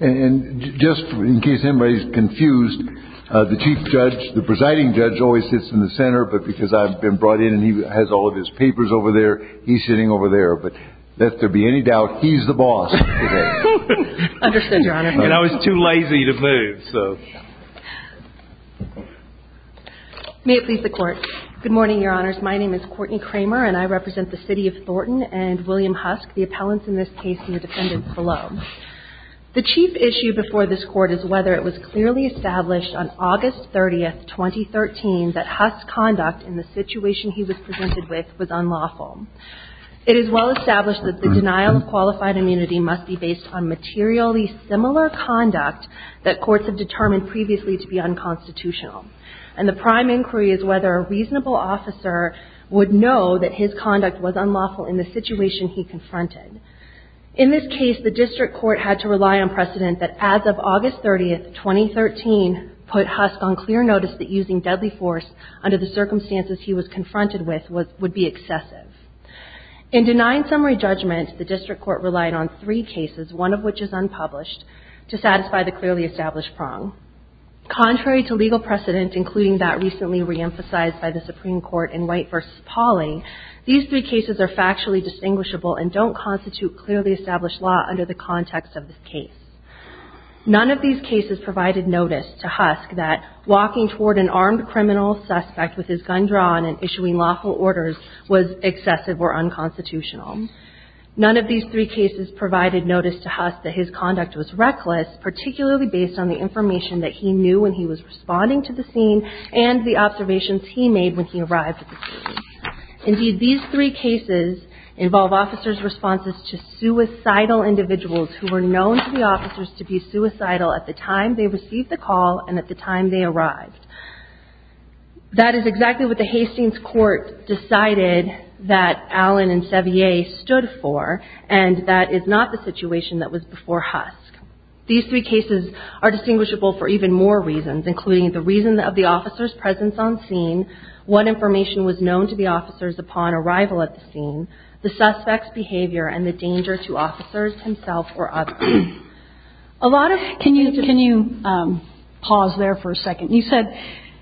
And just in case anybody's confused, the chief judge, the presiding judge, always sits in the center. But because I've been brought in and he has all of his papers over there, he's sitting over there. But if there be any doubt, he's the boss. Understood, Your Honor. And I was too lazy to move. May it please the Court. Good morning, Your Honors. My name is Courtney Kramer, and I represent the city of Thornton and William Husk, the appellants in this case and the defendants below. The chief issue before this Court is whether it was clearly established on August 30, 2013, that Husk's conduct in the situation he was presented with was unlawful. It is well established that the denial of qualified immunity must be based on materially similar conduct that courts have determined previously to be unconstitutional. And the prime inquiry is whether a reasonable officer would know that his conduct was unlawful in the situation he confronted. In this case, the district court had to rely on precedent that as of August 30, 2013, put Husk on clear notice that using deadly force under the circumstances he was confronted with would be excessive. In denying summary judgment, the district court relied on three cases, one of which is unpublished, to satisfy the clearly established prong. Contrary to legal precedent, including that recently reemphasized by the Supreme Court in White v. Pauling, these three cases are factually distinguishable and don't constitute clearly established law under the context of this case. None of these cases provided notice to Husk that walking toward an armed criminal suspect with his gun drawn and issuing lawful orders was excessive or unconstitutional. None of these three cases provided notice to Husk that his conduct was reckless, particularly based on the information that he knew when he was responding to the scene and the observations he made when he arrived at the scene. Indeed, these three cases involve officers' responses to suicidal individuals who were known to the officers to be suicidal at the time they received the call and at the time they arrived. That is exactly what the Hastings court decided that Allen and Sevier stood for, and that is not the situation that was before Husk. These three cases are distinguishable for even more reasons, including the reason of the officer's presence on scene, what information was known to the officers upon arrival at the scene, the suspect's behavior, and the danger to officers himself or others. Can you pause there for a second? You said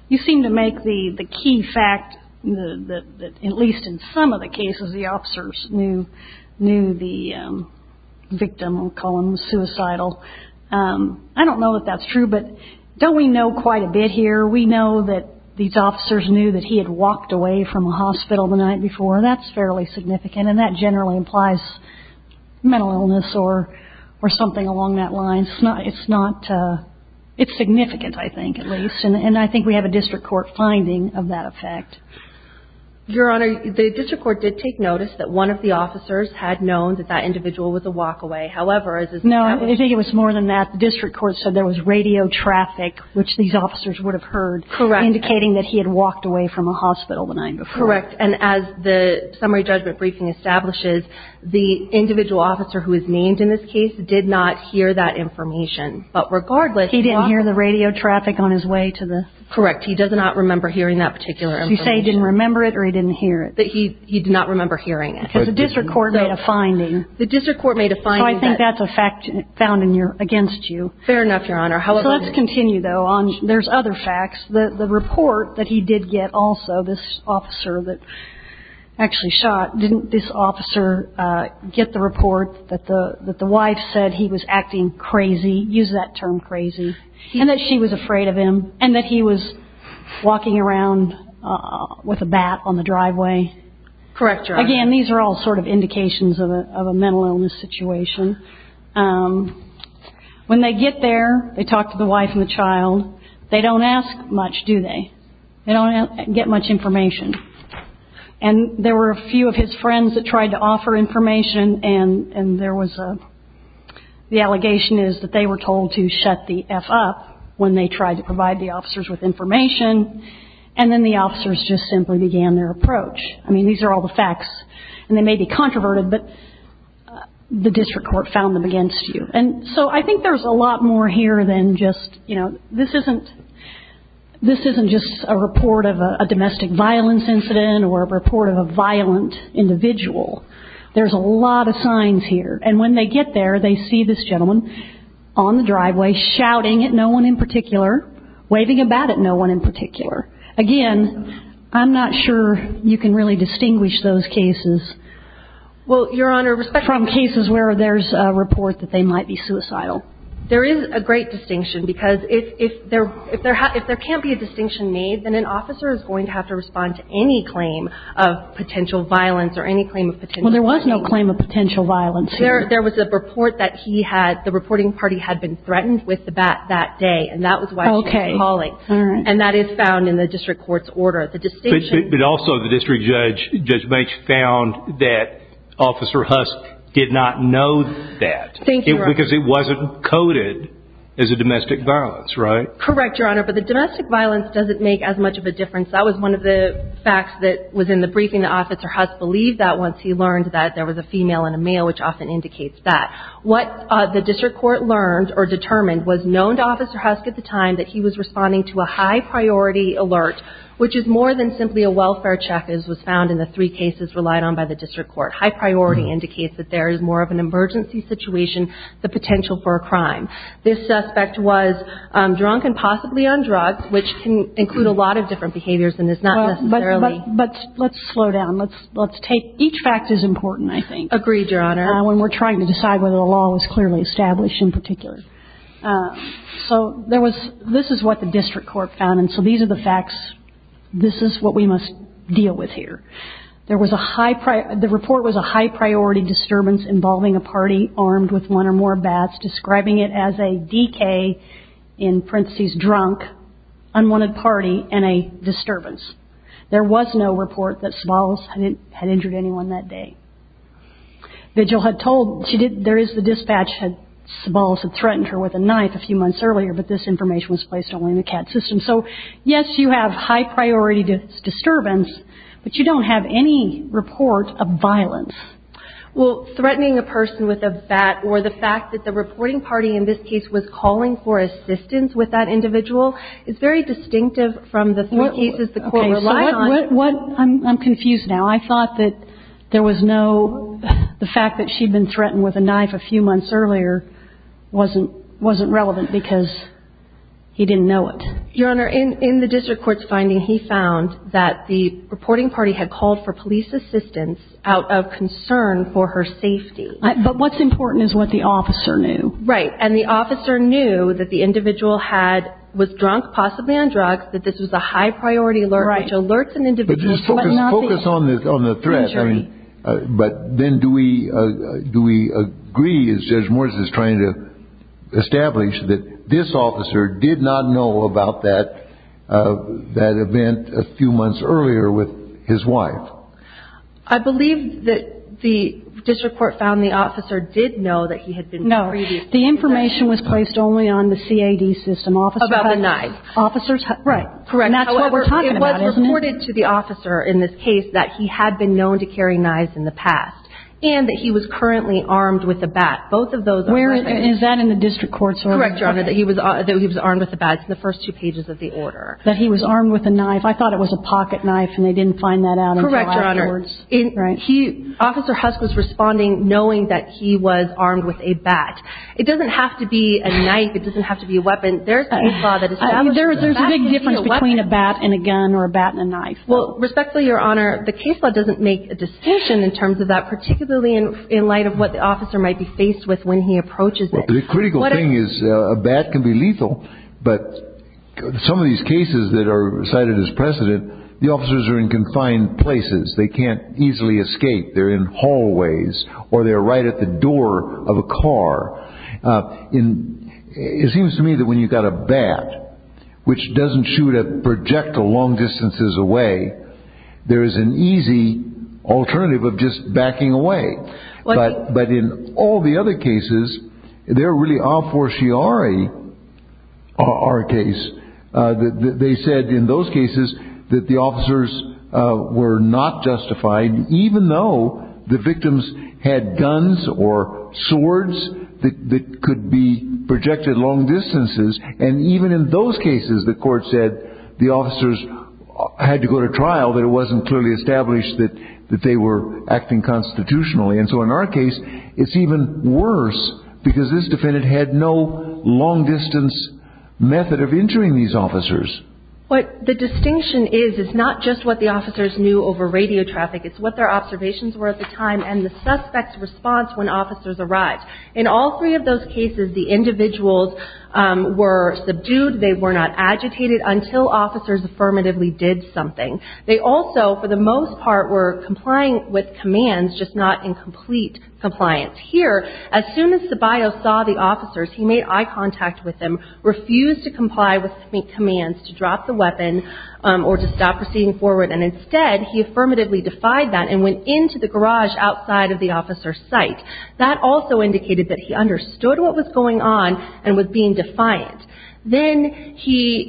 you seem to make the key fact that at least in some of the cases the officers knew the victim, we'll call him suicidal. I don't know if that's true, but don't we know quite a bit here? We know that these officers knew that he had walked away from a hospital the night before. That's fairly significant, and that generally implies mental illness or something along that line. It's significant, I think, at least, and I think we have a district court finding of that effect. Your Honor, the district court did take notice that one of the officers had known that that individual was a walkaway. No, I think it was more than that. The district court said there was radio traffic, which these officers would have heard, indicating that he had walked away from a hospital the night before. Correct. And as the summary judgment briefing establishes, the individual officer who was named in this case did not hear that information. But regardless... He didn't hear the radio traffic on his way to the... Correct. He does not remember hearing that particular information. Did you say he didn't remember it or he didn't hear it? That he did not remember hearing it. Because the district court made a finding. The district court made a finding that... So I think that's a fact found against you. Fair enough, Your Honor. So let's continue, though. There's other facts. The report that he did get also, this officer that actually shot, didn't this officer get the report that the wife said he was acting crazy, use that term crazy, and that she was afraid of him, Correct, Your Honor. Again, these are all sort of indications of a mental illness situation. When they get there, they talk to the wife and the child. They don't ask much, do they? They don't get much information. And there were a few of his friends that tried to offer information, and there was a... The allegation is that they were told to shut the F up when they tried to provide the officers with information, and then the officers just simply began their approach. I mean, these are all the facts, and they may be controverted, but the district court found them against you. And so I think there's a lot more here than just, you know, this isn't just a report of a domestic violence incident or a report of a violent individual. There's a lot of signs here. And when they get there, they see this gentleman on the driveway shouting at no one in particular, waving about at no one in particular. Again, I'm not sure you can really distinguish those cases. Well, Your Honor, respect from cases where there's a report that they might be suicidal. There is a great distinction, because if there can't be a distinction made, then an officer is going to have to respond to any claim of potential violence or any claim of potential violence. Well, there was no claim of potential violence here. There was a report that the reporting party had been threatened with that day, and that was why she was calling. And that is found in the district court's order. But also the district judge found that Officer Husk did not know that. Thank you, Your Honor. Because it wasn't coded as a domestic violence, right? Correct, Your Honor. But the domestic violence doesn't make as much of a difference. That was one of the facts that was in the briefing. Officer Husk believed that once he learned that there was a female and a male, which often indicates that. What the district court learned or determined was known to Officer Husk at the time that he was responding to a high-priority alert, which is more than simply a welfare check, as was found in the three cases relied on by the district court. High priority indicates that there is more of an emergency situation, the potential for a crime. This suspect was drunk and possibly on drugs, which can include a lot of different behaviors and is not necessarily. But let's slow down. Let's take – each fact is important, I think. Agreed, Your Honor. When we're trying to decide whether the law was clearly established in particular. So there was – this is what the district court found. And so these are the facts. This is what we must deal with here. There was a high – the report was a high-priority disturbance involving a party armed with one or more bats, describing it as a DK, in parentheses, drunk, unwanted party, and a disturbance. There was no report that Sobolos had injured anyone that day. Vigil had told – she did – there is the dispatch had – Sobolos had threatened her with a knife a few months earlier, but this information was placed only in the CAT system. So, yes, you have high-priority disturbance, but you don't have any report of violence. Well, threatening a person with a bat or the fact that the reporting party in this case was calling for assistance with that individual is very distinctive from the three cases the court relied on. I'm confused now. I thought that there was no – the fact that she'd been threatened with a knife a few months earlier wasn't relevant because he didn't know it. Your Honor, in the district court's finding, he found that the reporting party had called for police assistance out of concern for her safety. But what's important is what the officer knew. Right, and the officer knew that the individual had – was drunk, possibly on drugs, Focus on the threat. But then do we agree, as Judge Morris is trying to establish, that this officer did not know about that event a few months earlier with his wife? I believe that the district court found the officer did know that he had been – No, the information was placed only on the CAD system. About the knife. Officers – Right, correct. And that's what we're talking about, isn't it? However, it was reported to the officer in this case that he had been known to carry knives in the past and that he was currently armed with a bat. Both of those are – Is that in the district court's order? Correct, Your Honor, that he was armed with a bat. It's in the first two pages of the order. That he was armed with a knife. I thought it was a pocket knife and they didn't find that out until afterwards. Correct, Your Honor. Right. Officer Husk was responding knowing that he was armed with a bat. It doesn't have to be a knife. It doesn't have to be a weapon. There's a big difference between a bat and a gun or a bat and a knife. Well, respectfully, Your Honor, the case law doesn't make a distinction in terms of that, particularly in light of what the officer might be faced with when he approaches it. The critical thing is a bat can be lethal, but some of these cases that are cited as precedent, the officers are in confined places. They can't easily escape. It seems to me that when you've got a bat, which doesn't shoot a projectile long distances away, there is an easy alternative of just backing away. But in all the other cases, they're really a fortiori our case. They said in those cases that the officers were not justified, even though the victims had guns or swords that could be projected long distances. And even in those cases, the court said the officers had to go to trial, but it wasn't clearly established that they were acting constitutionally. And so in our case, it's even worse, because this defendant had no long-distance method of entering these officers. What the distinction is is not just what the officers knew over radio traffic. It's what their observations were at the time and the suspect's response when officers arrived. In all three of those cases, the individuals were subdued. They were not agitated until officers affirmatively did something. They also, for the most part, were complying with commands, just not in complete compliance. Here, as soon as Sabayo saw the officers, he made eye contact with them, refused to comply with commands to drop the weapon or to stop proceeding forward. And instead, he affirmatively defied that and went into the garage outside of the officer's sight. That also indicated that he understood what was going on and was being defiant. Then he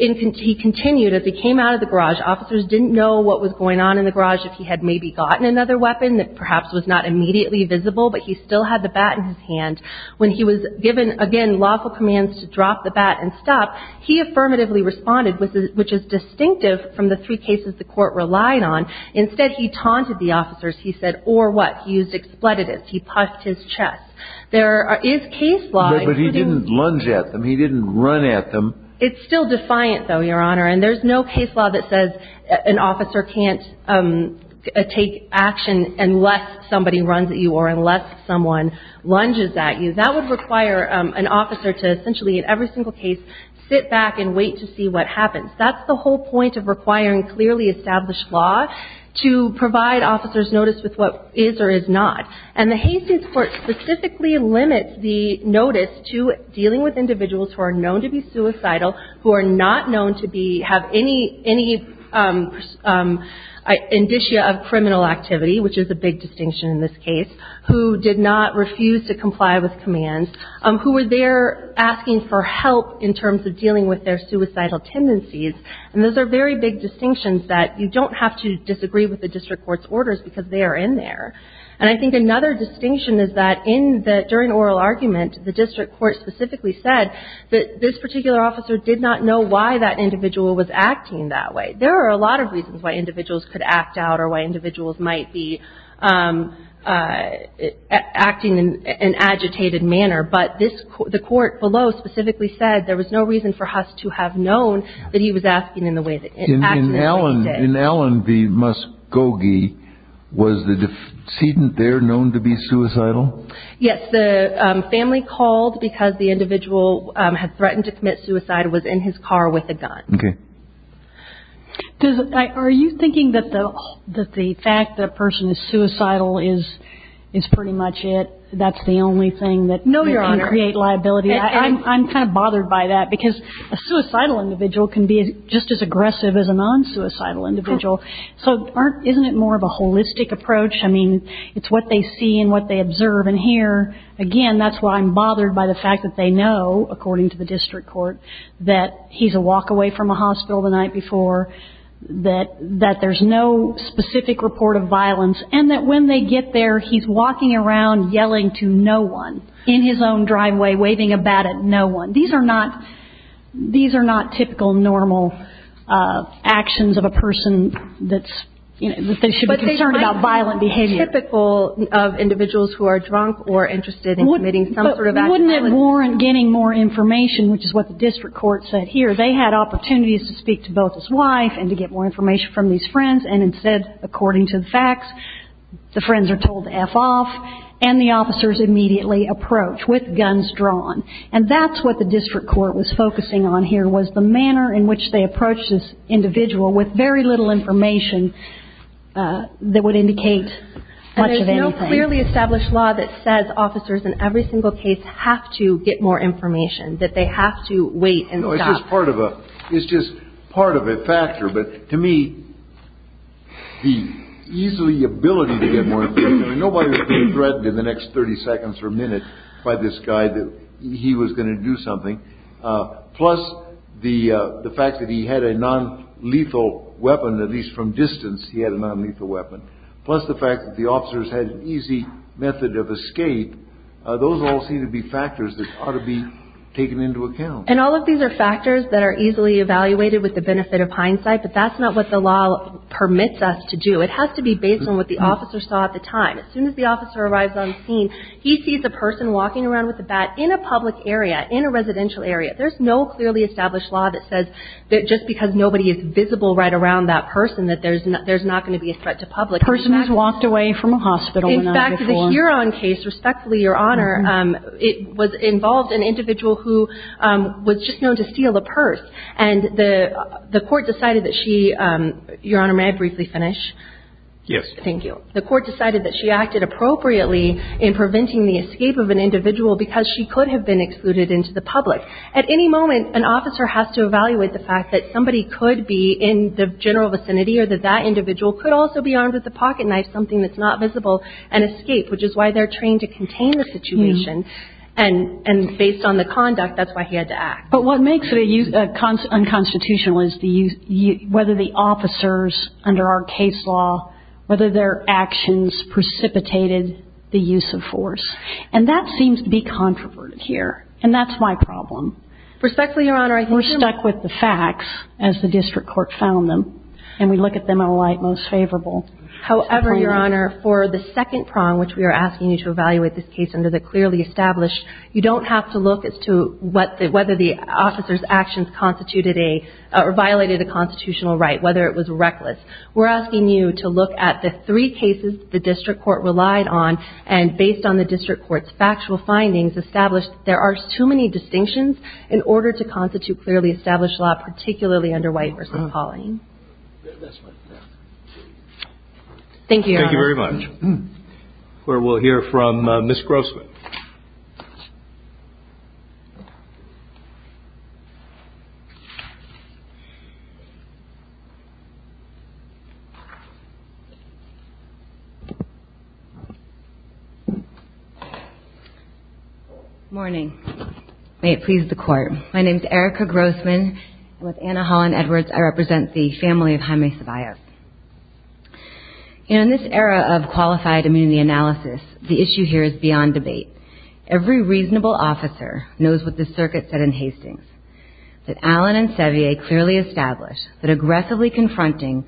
continued. As he came out of the garage, officers didn't know what was going on in the garage, if he had maybe gotten another weapon that perhaps was not immediately visible, but he still had the bat in his hand. When he was given, again, lawful commands to drop the bat and stop, he affirmatively responded, which is distinctive from the three cases the court relied on. Instead, he taunted the officers. He said, or what? He used expletives. He puffed his chest. There is case law. But he didn't lunge at them. He didn't run at them. It's still defiant, though, Your Honor, and there's no case law that says an officer can't take action unless somebody runs at you or unless someone lunges at you. That would require an officer to essentially, in every single case, sit back and wait to see what happens. That's the whole point of requiring clearly established law, to provide officers notice with what is or is not. And the Hastings Court specifically limits the notice to dealing with individuals who are known to be suicidal, who are not known to have any indicia of criminal activity, which is a big distinction in this case, who did not refuse to comply with commands, who were there asking for help in terms of dealing with their suicidal tendencies. And those are very big distinctions that you don't have to disagree with the district court's orders because they are in there. And I think another distinction is that in the during oral argument, the district court specifically said that this particular officer did not know why that individual was acting that way. There are a lot of reasons why individuals could act out or why individuals might be acting in an agitated manner, but the court below specifically said there was no reason for Huss to have known that he was asking in the way that he did. In Allen v. Muskogee, was the decedent there known to be suicidal? Yes. The family called because the individual had threatened to commit suicide, was in his car with a gun. Are you thinking that the fact that a person is suicidal is pretty much it? That's the only thing that can create liability? No, Your Honor. I'm kind of bothered by that because a suicidal individual can be just as aggressive as a non-suicidal individual. So isn't it more of a holistic approach? I mean, it's what they see and what they observe and hear. Again, that's why I'm bothered by the fact that they know, according to the district court, that he's a walk away from a hospital the night before, that there's no specific report of violence, and that when they get there, he's walking around yelling to no one in his own driveway, waving a bat at no one. These are not typical, normal actions of a person that they should be concerned about violent behavior. But they might be typical of individuals who are drunk or interested in committing some sort of act. But wouldn't it warrant getting more information, which is what the district court said here? They had opportunities to speak to both his wife and to get more information from these friends, and instead, according to the facts, the friends are told to F off, and the officers immediately approach with guns drawn. And that's what the district court was focusing on here, was the manner in which they approached this individual with very little information that would indicate much of anything. It's a clearly established law that says officers in every single case have to get more information, that they have to wait and stop. It's just part of a factor. But to me, the easily ability to get more information, I mean, nobody was being threatened in the next 30 seconds or a minute by this guy that he was going to do something. Plus the fact that he had a nonlethal weapon, at least from distance, he had a nonlethal weapon. Plus the fact that the officers had an easy method of escape. Those all seem to be factors that ought to be taken into account. And all of these are factors that are easily evaluated with the benefit of hindsight, but that's not what the law permits us to do. It has to be based on what the officer saw at the time. As soon as the officer arrives on scene, he sees a person walking around with a bat in a public area, in a residential area. There's no clearly established law that says that just because nobody is visible right around that person, that there's not going to be a threat to public. The person has walked away from a hospital. In fact, the Huron case, respectfully, Your Honor, it involved an individual who was just known to steal a purse. And the court decided that she – Your Honor, may I briefly finish? Yes. Thank you. The court decided that she acted appropriately in preventing the escape of an individual because she could have been excluded into the public. At any moment, an officer has to evaluate the fact that somebody could be in the general vicinity or that that individual could also be armed with a pocket knife, something that's not visible, and escape, which is why they're trained to contain the situation. And based on the conduct, that's why he had to act. But what makes it unconstitutional is whether the officers under our case law, whether their actions precipitated the use of force. And that seems to be controverted here. And that's my problem. Respectfully, Your Honor, I think you're – We're stuck with the facts as the district court found them. And we look at them in a light most favorable. However, Your Honor, for the second prong, which we are asking you to evaluate this case under the clearly established, you don't have to look as to whether the officer's actions constituted a – or violated a constitutional right, whether it was reckless. We're asking you to look at the three cases the district court relied on and based on the district court's factual findings, establish that there are too many distinctions in order to constitute clearly established law, particularly under White v. Pauling. That's fine. Thank you, Your Honor. Thank you very much. We will hear from Ms. Grossman. Good morning. May it please the Court. My name is Erica Grossman. With Anna Holland Edwards, I represent the family of Jaime Ceballos. In this era of qualified immunity analysis, the issue here is beyond debate. Every reasonable officer knows what the circuit said in Hastings, that Allen and Sevier clearly established that aggressively confronting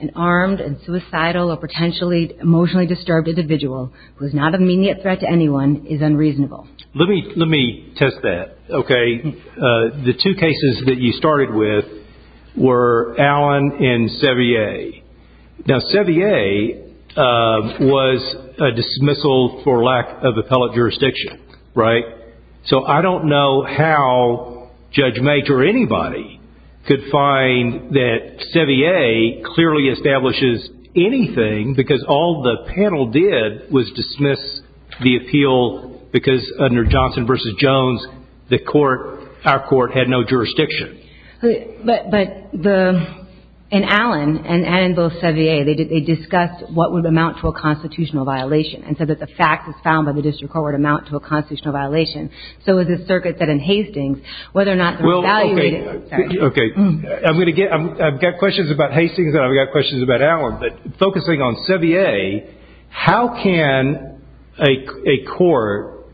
an armed and suicidal or potentially emotionally disturbed individual who is not a immediate threat to anyone is unreasonable. Let me test that, okay? The two cases that you started with were Allen and Sevier. Now, Sevier was a dismissal for lack of appellate jurisdiction, right? So I don't know how Judge Mage or anybody could find that Sevier clearly establishes anything because all the panel did was dismiss the appeal because under Johnson v. Jones, our court had no jurisdiction. But in Allen and in both Sevier, they discussed what would amount to a constitutional violation and said that the facts as found by the district court would amount to a constitutional violation. So the circuit said in Hastings whether or not they were evaluated. Okay. I've got questions about Hastings and I've got questions about Allen, but focusing on Sevier, how can a court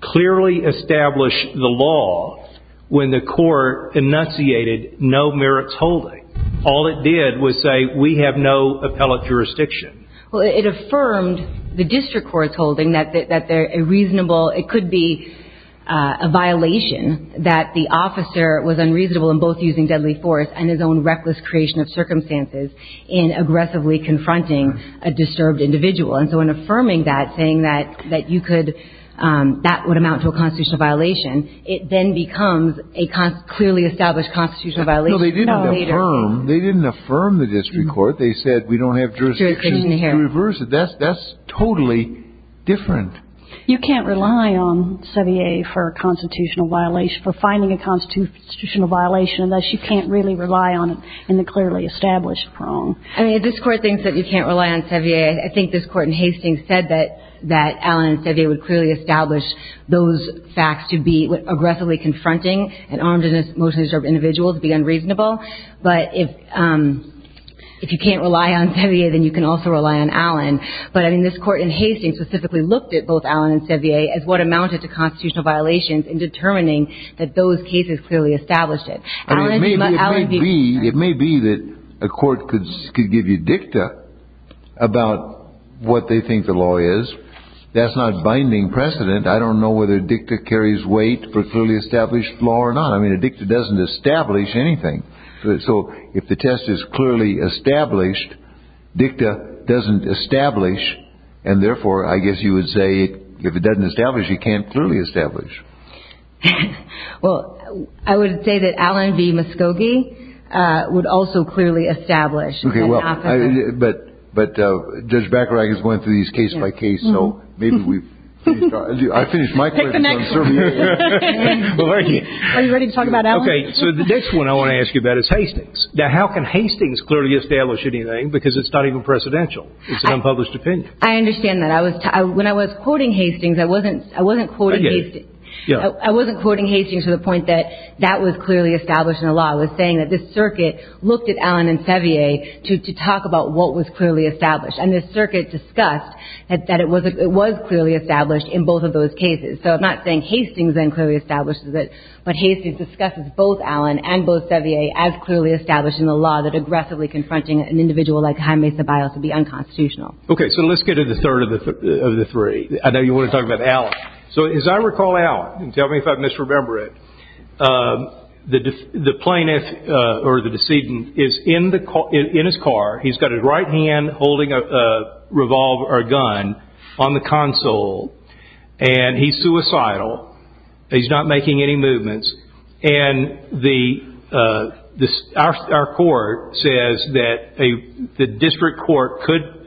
clearly establish the law when the court enunciated no merits holding? All it did was say we have no appellate jurisdiction. Well, it affirmed the district court's holding that it could be a violation that the officer was unreasonable in both using deadly force and his own reckless creation of circumstances in aggressively confronting a disturbed individual. And so in affirming that, saying that that would amount to a constitutional violation, it then becomes a clearly established constitutional violation. No, they didn't affirm the district court. They said we don't have jurisdiction to reverse it. That's totally different. You can't rely on Sevier for a constitutional violation, for finding a constitutional violation unless you can't really rely on it in the clearly established prong. I mean, this Court thinks that you can't rely on Sevier. I think this Court in Hastings said that Allen and Sevier would clearly establish those facts to be aggressively confronting an armed and emotionally disturbed individual to be unreasonable. But if you can't rely on Sevier, then you can also rely on Allen. But, I mean, this Court in Hastings specifically looked at both Allen and Sevier as what amounted to constitutional violations in determining that those cases clearly established it. I mean, it may be that a court could give you dicta about what they think the law is. That's not binding precedent. I don't know whether dicta carries weight for clearly established law or not. I mean, a dicta doesn't establish anything. So if the test is clearly established, dicta doesn't establish, and therefore I guess you would say if it doesn't establish, you can't clearly establish. Well, I would say that Allen v. Muskogee would also clearly establish. Okay, well, but Judge Bacharach is going through these case by case, so maybe we finish. I finished my questions on Sevier. Are you ready to talk about Allen? Okay, so the next one I want to ask you about is Hastings. Now, how can Hastings clearly establish anything because it's not even precedential? It's an unpublished opinion. I understand that. When I was quoting Hastings, I wasn't quoting Hastings to the point that that was clearly established in the law. I was saying that this circuit looked at Allen and Sevier to talk about what was clearly established, and this circuit discussed that it was clearly established in both of those cases. So I'm not saying Hastings then clearly establishes it, but Hastings discusses both Allen and both Sevier as clearly established in the law that aggressively confronting an individual like Jaime Ceballos would be unconstitutional. Okay, so let's get to the third of the three. I know you want to talk about Allen. So as I recall Allen, and tell me if I misremember it, the plaintiff or the decedent is in his car. He's got his right hand holding a revolver or a gun on the console, and he's suicidal. He's not making any movements. And our court says that the district court could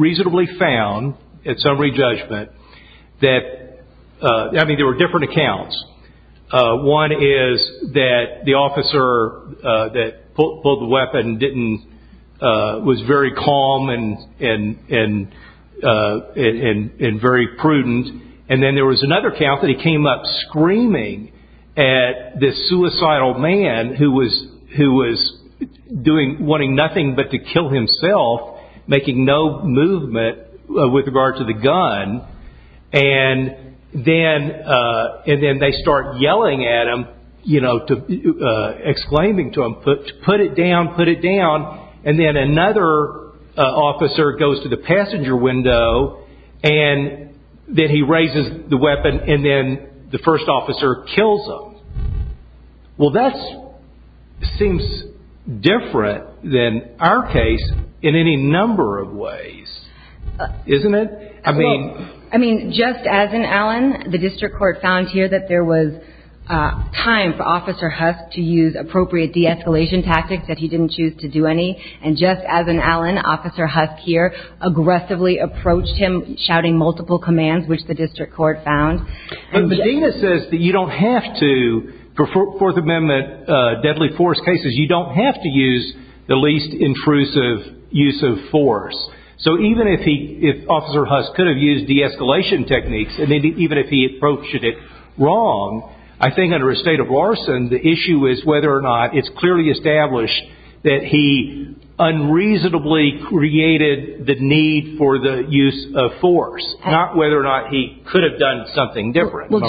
reasonably found, at summary judgment, that there were different accounts. One is that the officer that pulled the weapon was very calm and very prudent. And then there was another account that he came up screaming at this suicidal man who was wanting nothing but to kill himself, making no movement with regard to the gun. And then they start yelling at him, exclaiming to him, put it down, put it down. And then another officer goes to the passenger window, and then he raises the weapon, and then the first officer kills him. Well, that seems different than our case in any number of ways, isn't it? I mean, just as in Allen, the district court found here that there was time for Officer Husk to use appropriate de-escalation tactics that he didn't choose to do any. And just as in Allen, Officer Husk here aggressively approached him shouting multiple commands, which the district court found. But Medina says that you don't have to, for Fourth Amendment deadly force cases, you don't have to use the least intrusive use of force. So even if Officer Husk could have used de-escalation techniques, and even if he approached it wrong, I think under a state of larceny, the issue is whether or not it's clearly established that he unreasonably created the need for the use of force, not whether or not he could have done something different. Well,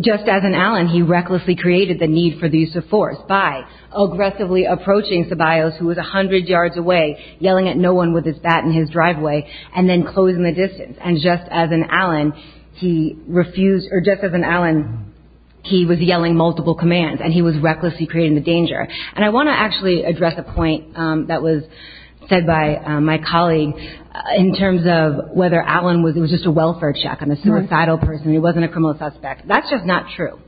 just as in Allen, he recklessly created the need for the use of force by aggressively approaching Ceballos, who was 100 yards away, yelling at no one with his bat in his driveway, and then closing the distance. And just as in Allen, he refused, or just as in Allen, he was yelling multiple commands, and he was recklessly creating the danger. And I want to actually address a point that was said by my colleague in terms of whether Allen was just a welfare check, a suicidal person, he wasn't a criminal suspect. That's just not true.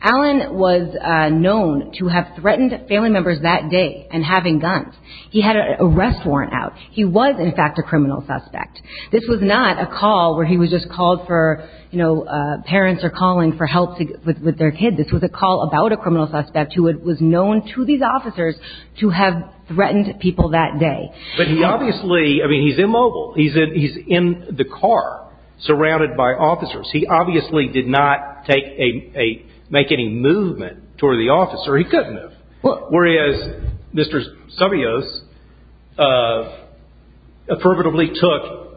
Allen was known to have threatened family members that day and having guns. He had an arrest warrant out. He was, in fact, a criminal suspect. This was not a call where he was just called for, you know, parents are calling for help with their kids. This was a call about a criminal suspect who was known to these officers to have threatened people that day. But he obviously, I mean, he's immobile. He's in the car, surrounded by officers. He obviously did not make any movement toward the officer. He couldn't have. Whereas Mr. Savios affirmatively took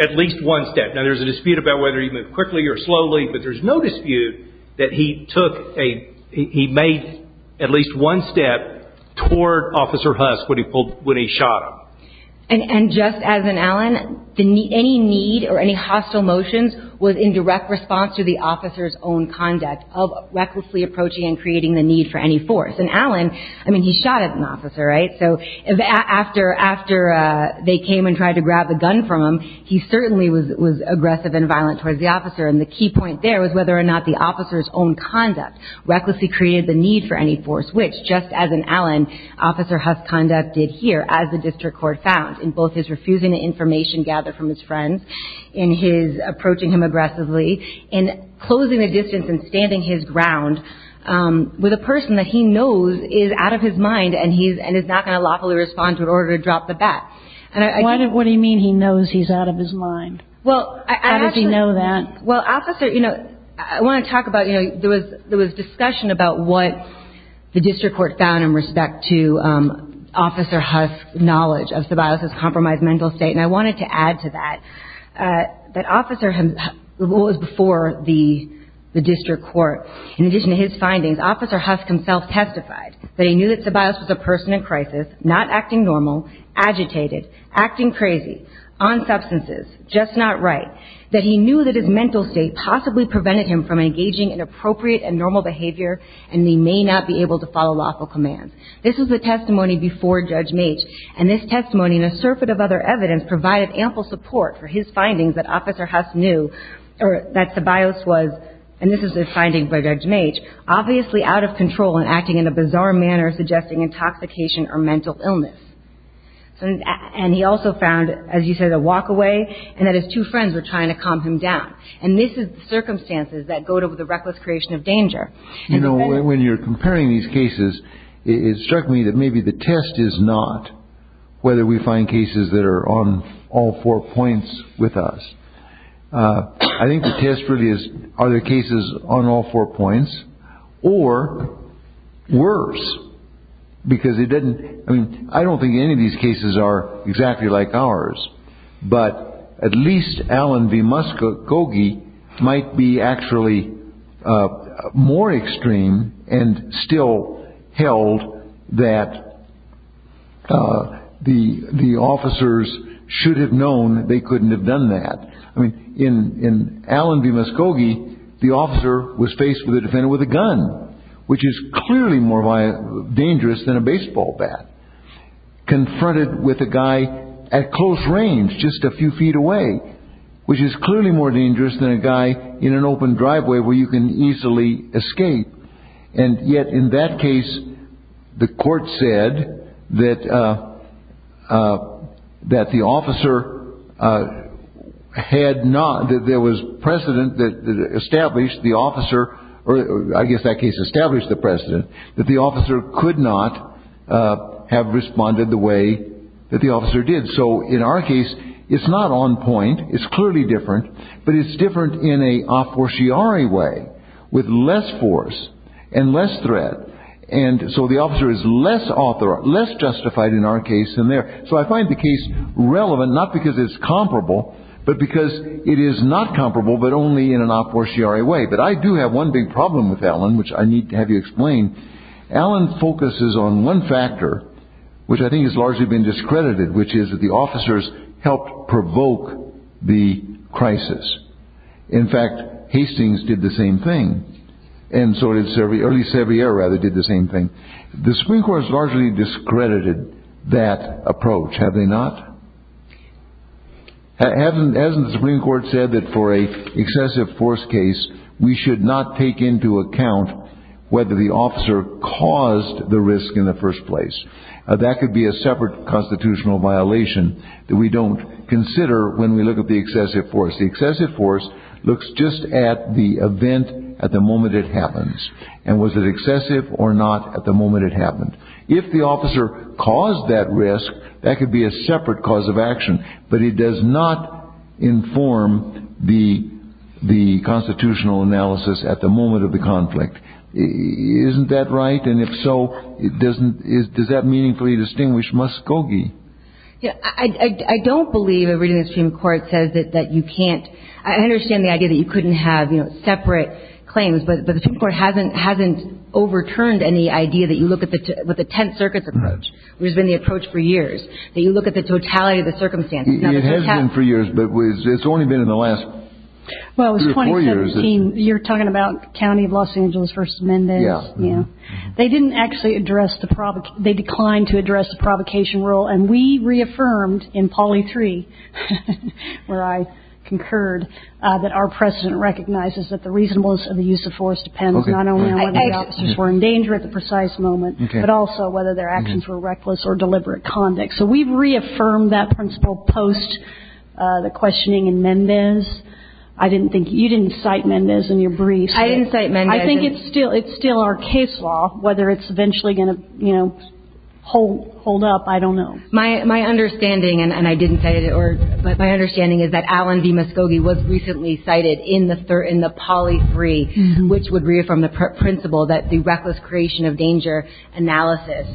at least one step. Now, there's a dispute about whether he moved quickly or slowly, but there's no dispute that he made at least one step toward Officer Huss when he shot him. And just as in Allen, any need or any hostile motions was in direct response to the officer's own conduct of recklessly approaching and creating the need for any force. And Allen, I mean, he shot at an officer, right? So after they came and tried to grab a gun from him, he certainly was aggressive and violent towards the officer. And the key point there was whether or not the officer's own conduct recklessly created the need for any force, which just as in Allen, Officer Huss' conduct did here, as the district court found, in both his refusing to information gather from his friends, in his approaching him aggressively, in closing the distance and standing his ground with a person that he knows is out of his mind and is not going to lawfully respond to in order to drop the bat. What do you mean he knows he's out of his mind? How does he know that? Well, Officer, you know, I want to talk about, you know, there was discussion about what the district court found in respect to Officer Huss' knowledge of Sabaius' compromised mental state, and I wanted to add to that, that Officer Huss, what was before the district court, in addition to his findings, Officer Huss himself testified that he knew that Sabaius was a person in crisis, not acting normal, agitated, acting crazy, on substances, just not right, that he knew that his mental state possibly prevented him from engaging in appropriate and normal behavior, and he may not be able to follow lawful commands. This was the testimony before Judge Maitch, and this testimony and a surfeit of other evidence provided ample support for his findings that Officer Huss knew that Sabaius was, and this is a finding by Judge Maitch, obviously out of control and acting in a bizarre manner, suggesting intoxication or mental illness. And he also found, as you said, a walk away, and that his two friends were trying to calm him down. And this is the circumstances that go to the reckless creation of danger. You know, when you're comparing these cases, it struck me that maybe the test is not whether we find cases that are on all four points with us. I think the test really is are there cases on all four points, or worse, because it doesn't, I mean, I don't think any of these cases are exactly like ours, but at least Allen v. Muskogee might be actually more extreme and still held that the officers should have known that they couldn't have done that. I mean, in Allen v. Muskogee, the officer was faced with a defendant with a gun, which is clearly more dangerous than a baseball bat. Confronted with a guy at close range, just a few feet away, which is clearly more dangerous than a guy in an open driveway where you can easily escape. And yet, in that case, the court said that the officer had not, that there was precedent that established the officer, or I guess that case established the precedent, that the officer could not have responded the way that the officer did. So in our case, it's not on point. It's clearly different. But it's different in an a fortiori way, with less force and less threat. And so the officer is less justified in our case than there. So I find the case relevant, not because it's comparable, but because it is not comparable, but only in an a fortiori way. But I do have one big problem with Allen, which I need to have you explain. Allen focuses on one factor, which I think has largely been discredited, which is that the officers helped provoke the crisis. In fact, Hastings did the same thing. And so did Sevier, or at least Sevier, rather, did the same thing. The Supreme Court has largely discredited that approach, have they not? Hasn't the Supreme Court said that for an excessive force case, we should not take into account whether the officer caused the risk in the first place? That could be a separate constitutional violation that we don't consider when we look at the excessive force. The excessive force looks just at the event at the moment it happens. And was it excessive or not at the moment it happened? If the officer caused that risk, that could be a separate cause of action, but it does not inform the constitutional analysis at the moment of the conflict. Isn't that right? And if so, does that meaningfully distinguish Muskogee? I don't believe a reading of the Supreme Court says that you can't. I understand the idea that you couldn't have separate claims, but the Supreme Court hasn't overturned any idea that you look at the 10th Circuit's approach, which has been the approach for years, that you look at the totality of the circumstances. It has been for years, but it's only been in the last two or four years. Well, it was 2017. You're talking about County of Los Angeles v. Mendez. Yeah. They didn't actually address the provocation. They declined to address the provocation rule. And we reaffirmed in Polly 3, where I concurred, that our precedent recognizes that the reasonableness of the use of force depends not only on whether the officers were in danger at the precise moment, but also whether their actions were reckless or deliberate conduct. So we've reaffirmed that principle post the questioning in Mendez. I didn't think you didn't cite Mendez in your briefs. I didn't cite Mendez. I think it's still our case law. Whether it's eventually going to, you know, hold up, I don't know. My understanding, and I didn't cite it, or my understanding is that Allen v. Muskogee was recently cited in the Polly 3, which would reaffirm the principle that the reckless creation of danger analysis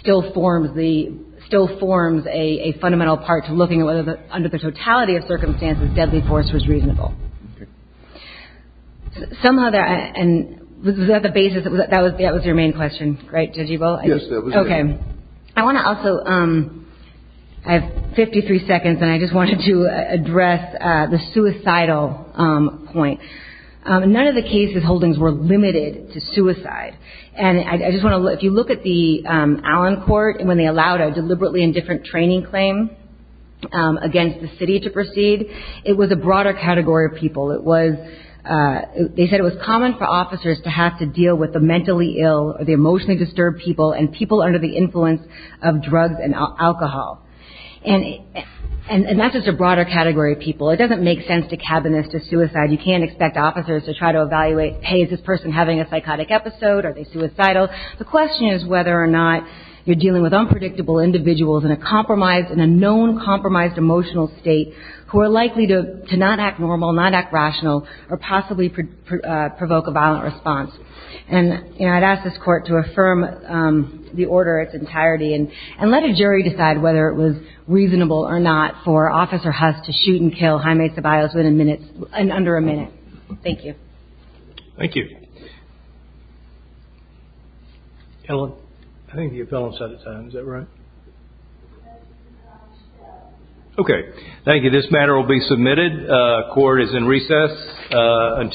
still forms a fundamental part to looking at whether, under the totality of circumstances, deadly force was reasonable. Okay. Somehow, and was that the basis? That was your main question, right, Judge Ebel? Yes, that was it. Okay. I want to also, I have 53 seconds, and I just wanted to address the suicidal point. None of the cases holdings were limited to suicide. And I just want to, if you look at the Allen court, when they allowed a deliberately indifferent training claim against the city to proceed, it was a broader category of people. It was, they said it was common for officers to have to deal with the mentally ill or the emotionally disturbed people and people under the influence of drugs and alcohol. And that's just a broader category of people. It doesn't make sense to cabin this to suicide. You can't expect officers to try to evaluate, hey, is this person having a psychotic episode? Are they suicidal? The question is whether or not you're dealing with unpredictable individuals in a compromised, in a known compromised emotional state who are likely to not act normal, not act rational, or possibly provoke a violent response. And, you know, I'd ask this court to affirm the order in its entirety and let a jury decide whether it was reasonable or not for Officer Huss to shoot and kill High Maids of Iowa's within minutes, in under a minute. Thank you. Thank you. Ellen, I think you fell on the side of time. Is that right? Okay. Thank you. This matter will be submitted. Court is in recess.